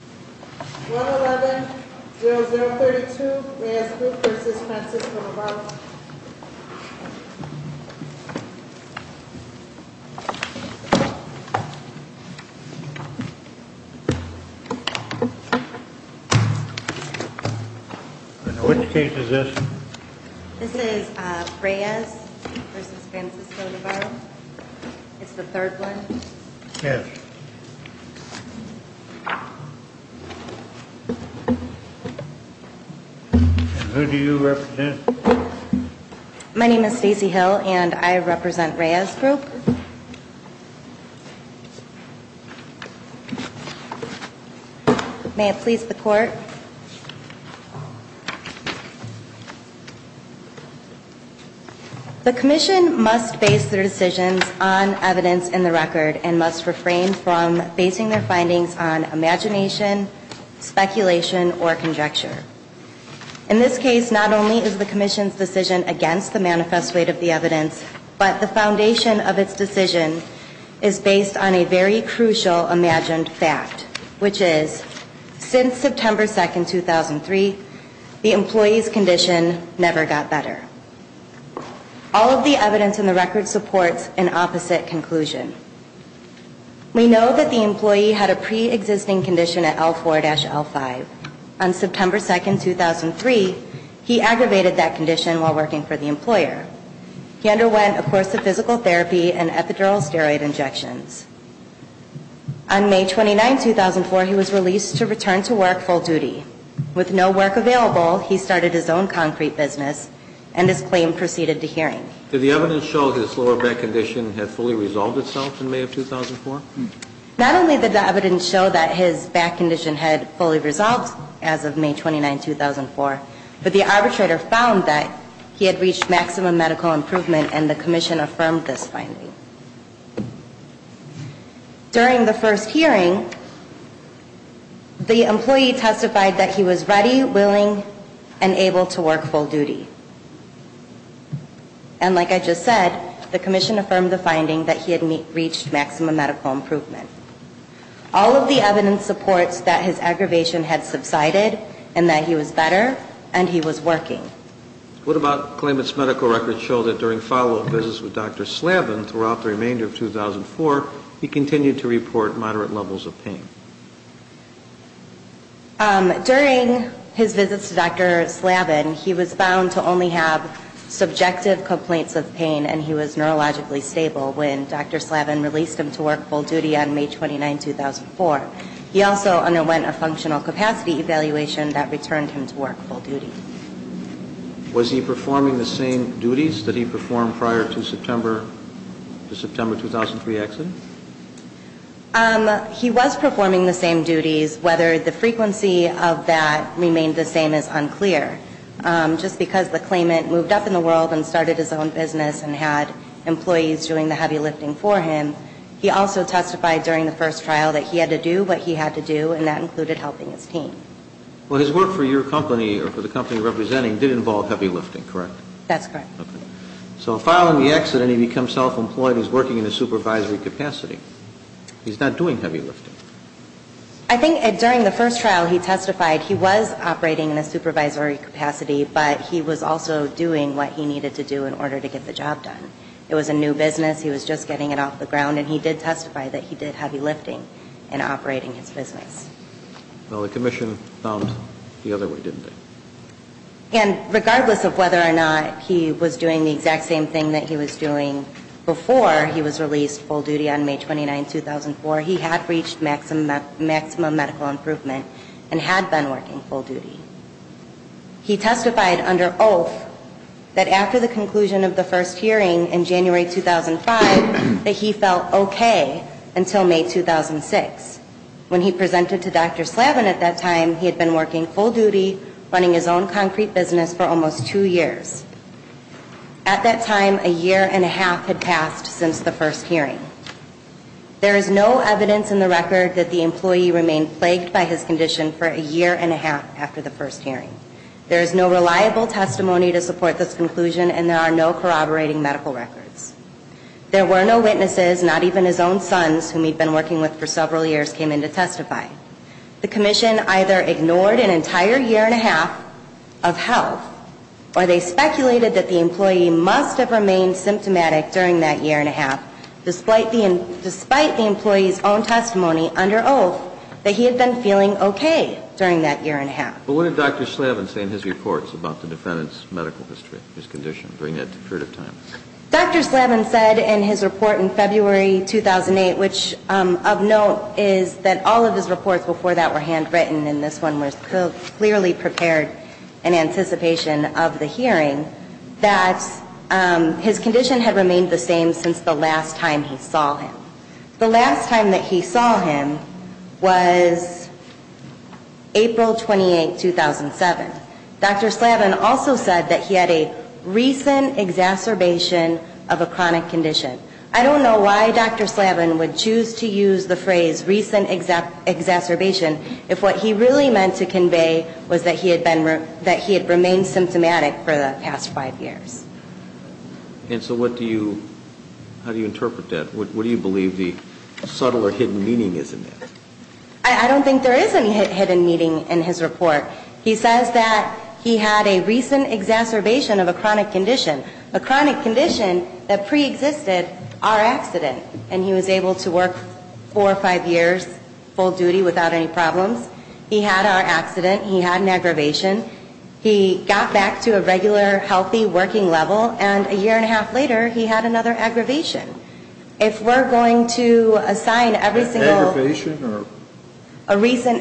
111-0032 Reyes Group v. Francisco Navarro Which case is this? This is Reyes v. Francisco Navarro. It's the third one. Yes. And who do you represent? My name is Stacey Hill and I represent Reyes Group. May it please the court. The commission must base their decisions on evidence in the record and must refrain from basing their findings on imagination, speculation, or conjecture. In this case, not only is the commission's decision against the manifest weight of the evidence, but the foundation of its decision is based on a very crucial imagined fact, which is, since September 2, 2003, the employee's condition never got better. All of the evidence in the record supports an opposite conclusion. We know that the employee had a pre-existing condition at L4-L5. On September 2, 2003, he aggravated that condition while working for the employer. He underwent a course of physical therapy and epidural steroid injections. On May 29, 2004, he was released to return to work full duty. With no work available, he started his own concrete business and his claim proceeded to hearing. Did the evidence show his lower back condition had fully resolved itself in May of 2004? Not only did the evidence show that his back condition had fully resolved as of May 29, 2004, but the arbitrator found that he had reached maximum medical improvement and the commission affirmed this finding. During the first hearing, the employee testified that he was ready, willing, and able to work full duty. And like I just said, the commission affirmed the finding that he had reached maximum medical improvement. All of the evidence supports that his aggravation had subsided and that he was better and he was working. What about claimants' medical records show that during follow-up visits with Dr. Slavin throughout the remainder of 2004, he continued to report moderate levels of pain? During his visits to Dr. Slavin, he was found to only have subjective complaints of pain and he was neurologically stable when Dr. Slavin released him to work full duty on May 29, 2004. He also underwent a functional capacity evaluation that returned him to work full duty. Was he performing the same duties that he performed prior to the September 2003 accident? He was performing the same duties. Whether the frequency of that remained the same is unclear. Just because the claimant moved up in the world and started his own business and had employees doing the heavy lifting for him, he also testified during the first trial that he had to do what he had to do, and that included helping his team. Well, his work for your company or for the company you're representing did involve heavy lifting, correct? That's correct. Okay. So following the accident, he becomes self-employed. He's working in a supervisory capacity. He's not doing heavy lifting. I think during the first trial, he testified he was operating in a supervisory capacity, but he was also doing what he needed to do in order to get the job done. It was a new business. He was just getting it off the ground, and he did testify that he did heavy lifting in operating his business. Well, the commission found the other way, didn't they? And regardless of whether or not he was doing the exact same thing that he was doing before he was released full duty on May 29, 2004, he had reached maximum medical improvement and had been working full duty. He testified under oath that after the conclusion of the first hearing in January 2005 that he felt okay until May 2006. When he presented to Dr. Slavin at that time, he had been working full duty, running his own concrete business for almost two years. At that time, a year and a half had passed since the first hearing. There is no evidence in the record that the employee remained plagued by his condition for a year and a half after the first hearing. There is no reliable testimony to support this conclusion, and there are no corroborating medical records. There were no witnesses, not even his own sons, whom he'd been working with for several years, came in to testify. The commission either ignored an entire year and a half of health, or they speculated that the employee must have remained symptomatic during that year and a half, despite the employee's own testimony under oath that he had been feeling okay during that year and a half. But what did Dr. Slavin say in his reports about the defendant's medical history, his condition during that period of time? Dr. Slavin said in his report in February 2008, which of note is that all of his reports before that were handwritten, and this one was clearly prepared in anticipation of the hearing, that his condition had remained the same since the last time he saw him. The last time that he saw him was April 28, 2007. Dr. Slavin also said that he had a recent exacerbation of a chronic condition. I don't know why Dr. Slavin would choose to use the phrase recent exacerbation if what he really meant to convey was that he had remained symptomatic for the past five years. And so what do you, how do you interpret that? What do you believe the subtle or hidden meaning is in that? I don't think there is any hidden meaning in his report. He says that he had a recent exacerbation of a chronic condition, a chronic condition that preexisted our accident. And he was able to work four or five years full duty without any problems. He had our accident. He had an aggravation. He got back to a regular, healthy working level. And a year and a half later, he had another aggravation. If we're going to assign every single ---- Aggravation or ---- So it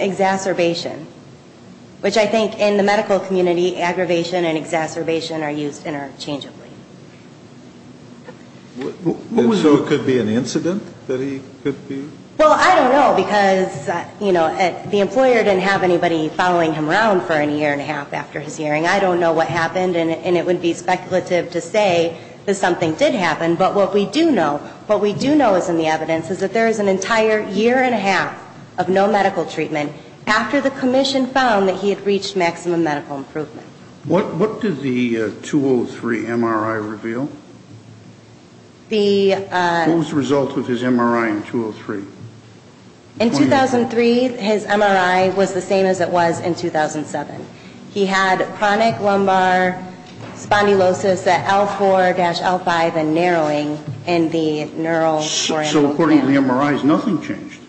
could be an incident that he could be ---- Well, I don't know because, you know, the employer didn't have anybody following him around for a year and a half after his hearing. I don't know what happened. And it would be speculative to say that something did happen. But what we do know, what we do know is in the evidence is that there is an entire year and a half of no medical treatment after the commission found that he had reached maximum medical improvement. What did the 2003 MRI reveal? The ---- What was the result of his MRI in 2003? In 2003, his MRI was the same as it was in 2007. He had chronic lumbar spondylosis at L4-L5 and narrowing in the neural ---- So according to the MRIs, nothing changed.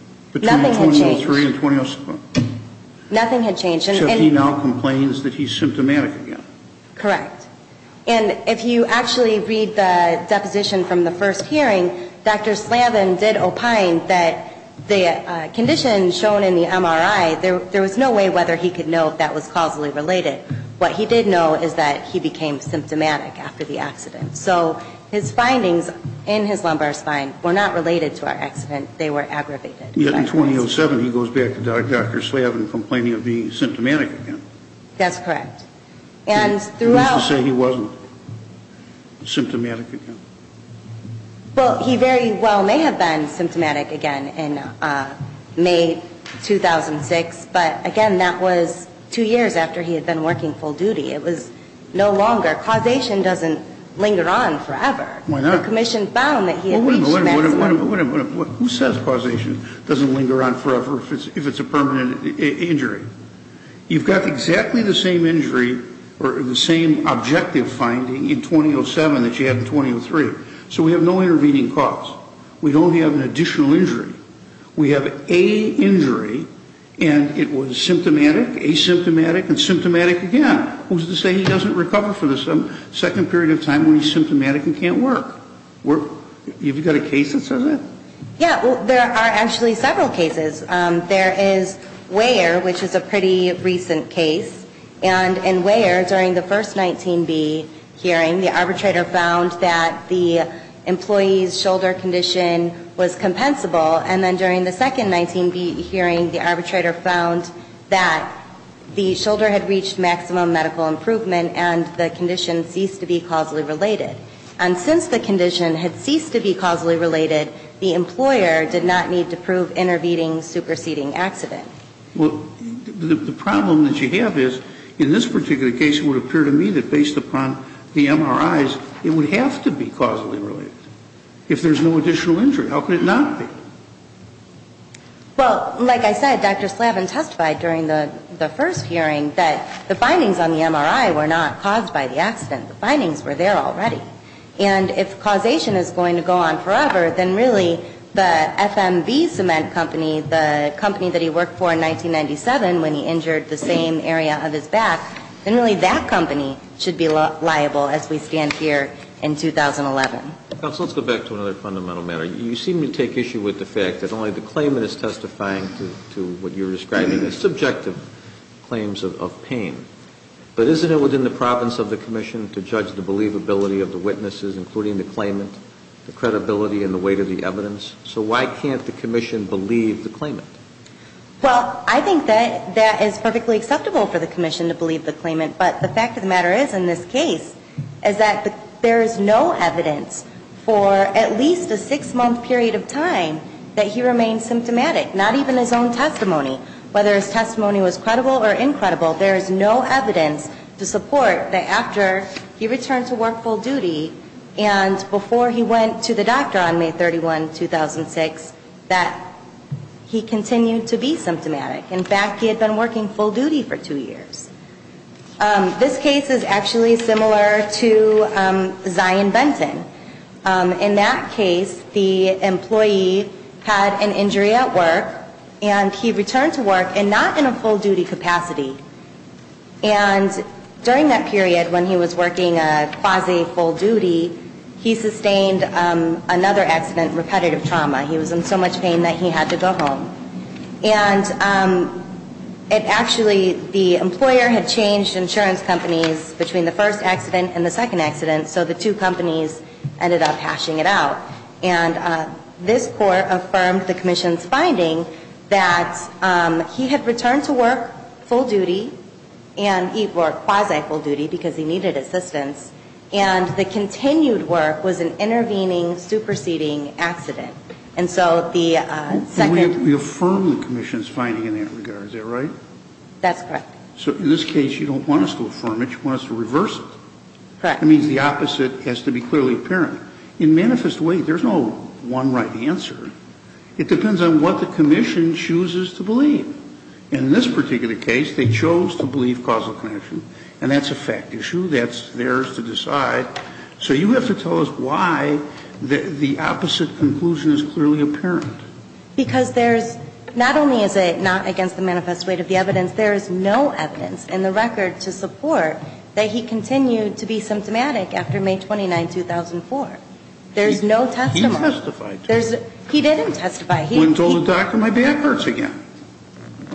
Nothing had changed. Between 2003 and ---- Nothing had changed. Except he now complains that he's symptomatic again. Correct. And if you actually read the deposition from the first hearing, Dr. Slavin did opine that the condition shown in the MRI, there was no way whether he could know if that was causally related. What he did know is that he became symptomatic after the accident. So his findings in his lumbar spine were not related to our accident. They were aggravated. Yet in 2007, he goes back to Dr. Slavin complaining of being symptomatic again. That's correct. And throughout ---- That is to say he wasn't symptomatic again. Well, he very well may have been symptomatic again in May 2006. But, again, that was two years after he had been working full duty. It was no longer ---- causation doesn't linger on forever. Why not? The commission found that he had reached maximum ---- Who says causation doesn't linger on forever if it's a permanent injury? You've got exactly the same injury or the same objective finding in 2007 that you had in 2003. So we have no intervening cause. We don't have an additional injury. We have a injury, and it was symptomatic, asymptomatic, and symptomatic again. Who's to say he doesn't recover for the second period of time when he's symptomatic and can't work? Have you got a case that says that? Yeah. Well, there are actually several cases. There is Weyer, which is a pretty recent case. And in Weyer, during the first 19B hearing, the arbitrator found that the employee's shoulder condition was compensable. And then during the second 19B hearing, the arbitrator found that the shoulder had reached maximum medical improvement and the condition ceased to be causally related. And since the condition had ceased to be causally related, the employer did not need to prove intervening, superseding accident. Well, the problem that you have is, in this particular case, it would appear to me that based upon the MRIs, it would have to be causally related. If there's no additional injury, how could it not be? Well, like I said, Dr. Slavin testified during the first hearing that the findings on the MRI were not caused by the accident. The findings were there already. And if causation is going to go on forever, then really the FMV cement company, the company that he worked for in 1997 when he injured the same area of his back, then really that company should be liable as we stand here in 2011. Counsel, let's go back to another fundamental matter. You seem to take issue with the fact that only the claimant is testifying to what you're describing as subjective claims of pain. But isn't it within the province of the commission to judge the believability of the witnesses, including the claimant, the credibility and the weight of the evidence? So why can't the commission believe the claimant? Well, I think that that is perfectly acceptable for the commission to believe the claimant. But the fact of the matter is, in this case, is that there is no evidence for at least a six-month period of time that he remained symptomatic, not even his own testimony. Whether his testimony was credible or incredible, there is no evidence to support that after he returned to work full duty and before he went to the doctor on May 31, 2006, that he continued to be symptomatic. In fact, he had been working full duty for two years. This case is actually similar to Zion Benton. In that case, the employee had an injury at work, and he returned to work and not in a full-duty capacity. And during that period, when he was working quasi-full duty, he sustained another accident, repetitive trauma. He was in so much pain that he had to go home. And it actually, the employer had changed insurance companies between the first accident and the second accident, so the two companies ended up hashing it out. And this Court affirmed the commission's finding that he had returned to work full duty, and he worked quasi-full duty because he needed assistance, and the continued work was an intervening, superseding accident. And so the second... We affirm the commission's finding in that regard. Is that right? That's correct. So in this case, you don't want us to affirm it. You want us to reverse it. Correct. That means the opposite has to be clearly apparent. In manifest weight, there's no one right answer. It depends on what the commission chooses to believe. In this particular case, they chose to believe causal connection, and that's a fact issue. That's theirs to decide. So you have to tell us why the opposite conclusion is clearly apparent. Because there's not only is it not against the manifest weight of the evidence, there is no evidence in the record to support that he continued to be symptomatic after May 29, 2004. There's no testimony. He testified. He didn't testify. When told the doctor my back hurts again.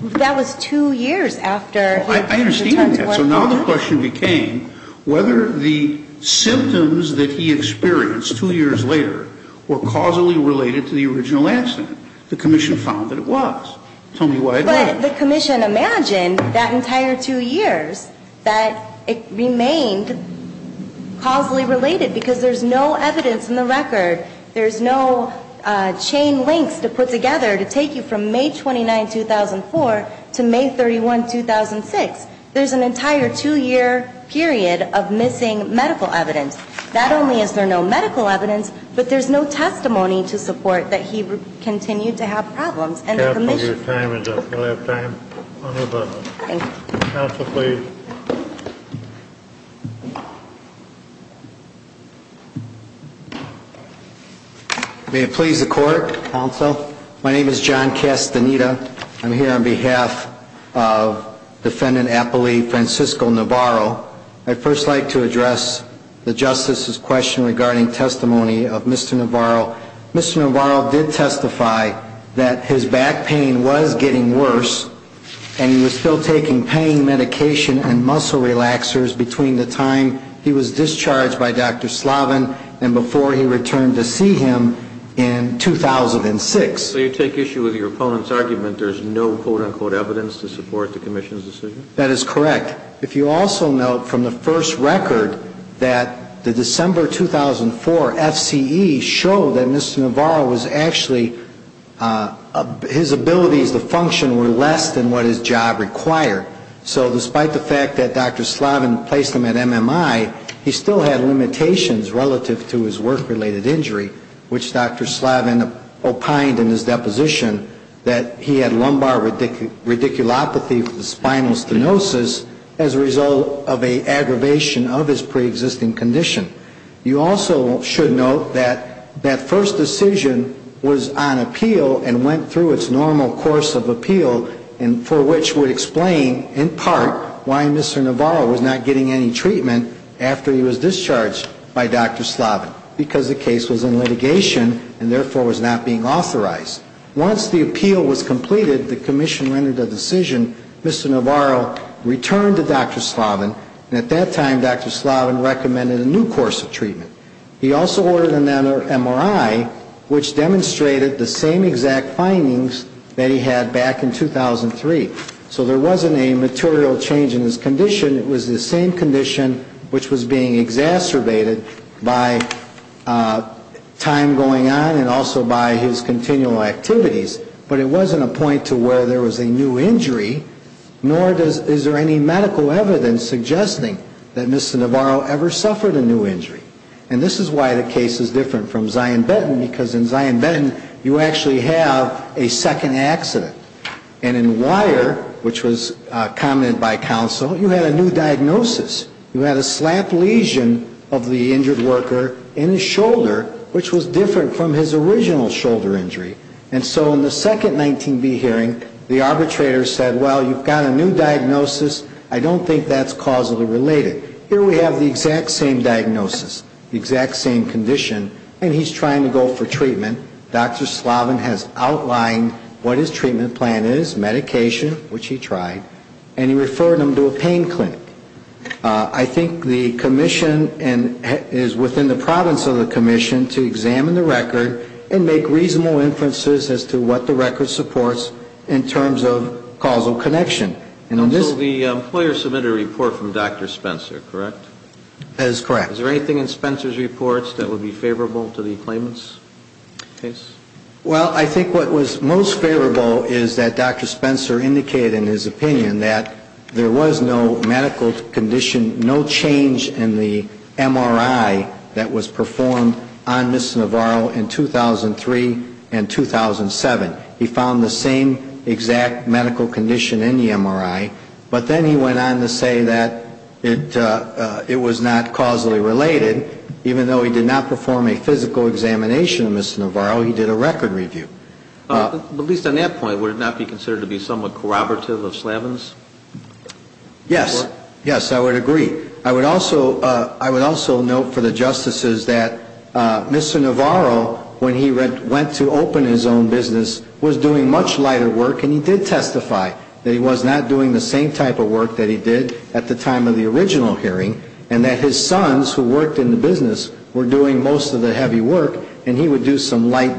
That was two years after... I understand that. So now the question became whether the symptoms that he experienced two years later were causally related to the original accident. The commission found that it was. Tell me why it wasn't. But the commission imagined that entire two years that it remained causally related because there's no evidence in the record. There's no chain links to put together to take you from May 29, 2004 to May 31, 2006. There's an entire two-year period of missing medical evidence. Not only is there no medical evidence, but there's no testimony to support that he continued to have problems. Counsel, your time is up. Do you have time? Counsel, please. May it please the Court, Counsel. My name is John Castaneda. I'm here on behalf of Defendant Apolli Francisco Navarro. I'd first like to address the Justice's question regarding testimony of Mr. Navarro. Mr. Navarro did testify that his back pain was getting worse and he was still taking pain medication and muscle relaxers between the time he was discharged by Dr. Slavin and before he returned to see him in 2006. So you take issue with your opponent's argument there's no quote-unquote evidence to support the commission's decision? That is correct. In fact, if you also note from the first record that the December 2004 FCE showed that Mr. Navarro was actually his abilities to function were less than what his job required. So despite the fact that Dr. Slavin placed him at MMI, he still had limitations relative to his work-related injury, which Dr. Slavin opined in his deposition that he had lumbar radiculopathy from the spinal stenosis as a result of an aggravation of his preexisting condition. You also should note that that first decision was on appeal and went through its normal course of appeal for which would explain in part why Mr. Navarro was not getting any treatment after he was discharged by Dr. Slavin because the case was in litigation and therefore was not being authorized. Once the appeal was completed, the commission rendered a decision, Mr. Navarro returned to Dr. Slavin and at that time Dr. Slavin recommended a new course of treatment. He also ordered an MRI which demonstrated the same exact findings that he had back in 2003. So there wasn't a material change in his condition. It was the same condition which was being exacerbated by time going on and also by his continual activities. But it wasn't a point to where there was a new injury, nor is there any medical evidence suggesting that Mr. Navarro ever suffered a new injury. And this is why the case is different from Zion-Benton because in Zion-Benton you actually have a second accident. And in Weyer, which was commented by counsel, you had a new diagnosis. You had a slap lesion of the injured worker in his shoulder which was different from his original shoulder injury. And so in the second 19-B hearing, the arbitrator said, well, you've got a new diagnosis. I don't think that's causally related. Here we have the exact same diagnosis, the exact same condition, and he's trying to go for treatment. Dr. Slavin has outlined what his treatment plan is, medication, which he tried, and he referred him to a pain clinic. I think the commission is within the province of the commission to examine the record and make reasonable inferences as to what the record supports in terms of causal connection. And on this ‑‑ So the employer submitted a report from Dr. Spencer, correct? That is correct. Is there anything in Spencer's reports that would be favorable to the claimant's case? Well, I think what was most favorable is that Dr. Spencer indicated in his opinion that there was no medical condition, no change in the MRI that was performed on Ms. Navarro in 2003 and 2007. He found the same exact medical condition in the MRI, but then he went on to say that it was not causally related. Even though he did not perform a physical examination of Ms. Navarro, he did a record review. At least on that point, would it not be considered to be somewhat corroborative of Slavin's report? Yes. Yes, I would agree. I would also note for the justices that Mr. Navarro, when he went to open his own business, was doing much lighter work, and he did testify that he was not doing the same type of work that he did at the time of the original hearing, and that his sons, who worked in the business, were doing most of the heavy work, and he would do some light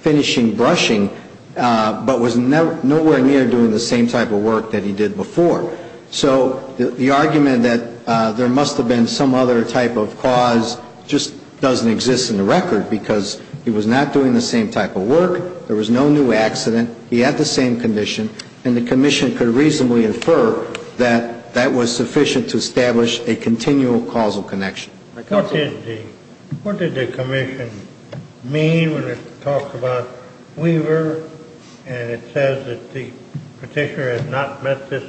finishing brushing, but was nowhere near doing the same type of work that he did before. So the argument that there must have been some other type of cause just doesn't exist in the record because he was not doing the same type of work, there was no new accident, he had the same condition, and the commission could reasonably infer that that was sufficient to establish a continual causal connection. What did the commission mean when it talked about Weaver, and it says that the Petitioner has not met this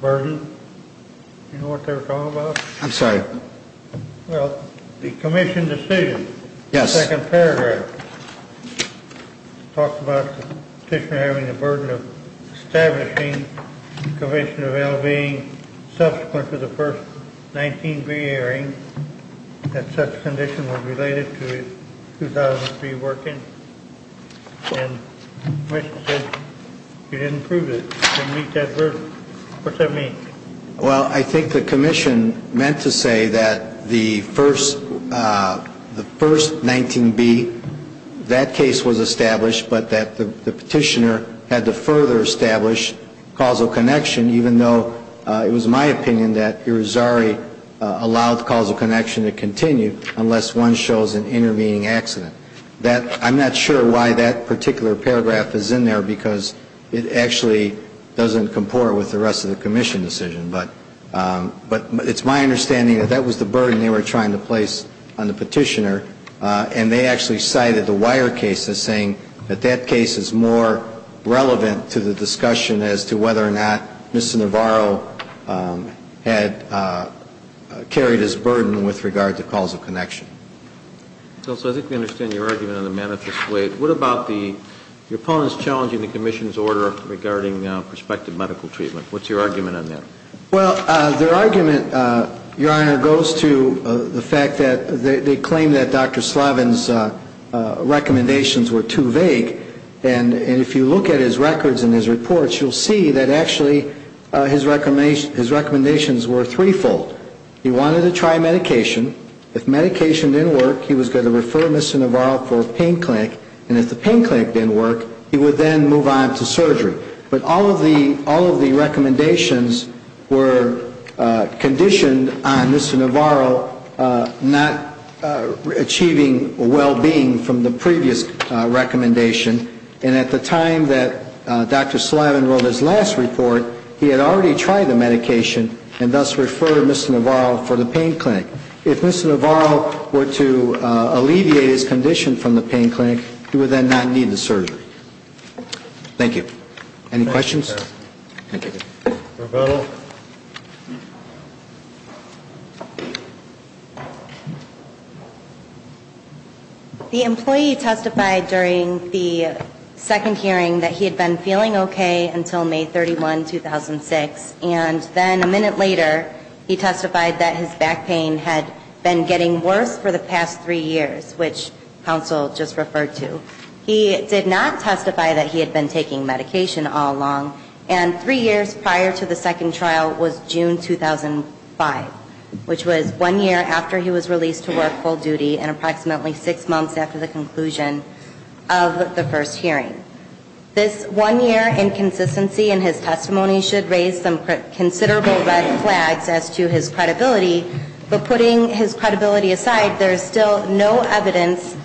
burden? Do you know what they were talking about? I'm sorry. Well, the commission decision. Yes. The second paragraph talks about the Petitioner having the burden of establishing the Commission of L.B. subsequent to the first 19B hearing, that such conditions were related to his 2003 work in, and the commission said he didn't prove it, he didn't meet that burden. What's that mean? Well, I think the commission meant to say that the first 19B, that case was established, but that the Petitioner had to further establish causal connection, even though it was my opinion that Irizarry allowed causal connection to continue, unless one shows an intervening accident. I'm not sure why that particular paragraph is in there, because it actually doesn't comport with the rest of the commission decision, but it's my understanding that that was the burden they were trying to place on the Petitioner, and they actually cited the Weyer case as saying that that case is more relevant to the discussion as to whether or not Mr. Navarro had carried his burden with regard to causal connection. So I think we understand your argument in a manifest way. What about the opponents challenging the commission's order regarding prospective medical treatment? What's your argument on that? Well, their argument, Your Honor, goes to the fact that they claim that Dr. Slavin's recommendations were too vague, and if you look at his records and his reports, you'll see that actually his recommendations were threefold. He wanted to try medication. If medication didn't work, he was going to refer Mr. Navarro for a pain clinic, and if the pain clinic didn't work, he would then move on to surgery. But all of the recommendations were conditioned on Mr. Navarro not achieving well-being from the previous recommendation, and at the time that Dr. Slavin wrote his last report, he had already tried the medication and thus referred Mr. Navarro for the pain clinic. If Mr. Navarro were to alleviate his condition from the pain clinic, he would then not need the surgery. Thank you. Any questions? Thank you. Pro Bono. The employee testified during the second hearing that he had been feeling okay until May 31, 2006, and then a minute later, he testified that his back pain had been getting worse for the past three years, which counsel just referred to. He did not testify that he had been taking medication all along, and three years prior to the second trial was June 2005, which was one year after he was released to work full duty and approximately six months after the conclusion of the first hearing. This one-year inconsistency in his testimony should raise some considerable red flags as to his credibility, but putting his credibility aside, there is still no evidence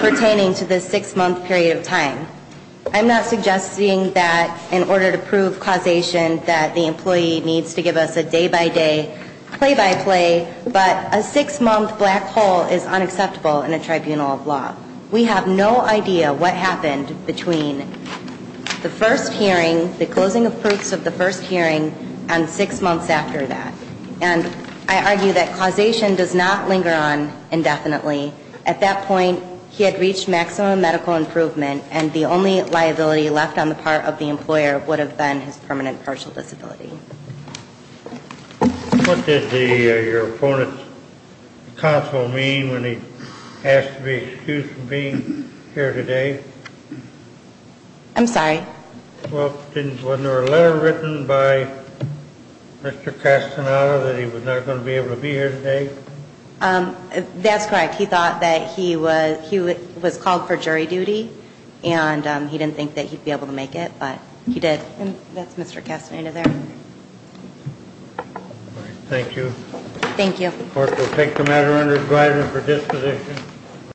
pertaining to this six-month period of time. I'm not suggesting that in order to prove causation that the employee needs to give us a day-by-day, play-by-play, but a six-month black hole is unacceptable in a tribunal of law. We have no idea what happened between the first hearing, the closing of proofs of the first hearing, and six months after that. And I argue that causation does not linger on indefinitely. At that point, he had reached maximum medical improvement, and the only liability left on the part of the employer would have been his permanent partial disability. What did your opponent's counsel mean when he asked to be excused from being here today? I'm sorry? Well, wasn't there a letter written by Mr. Castaneda that he was not going to be able to be here today? That's correct. He thought that he was called for jury duty, and he didn't think that he'd be able to make it, but he did. And that's Mr. Castaneda there. All right, thank you. Thank you. The court will take the matter under advisory for disposition.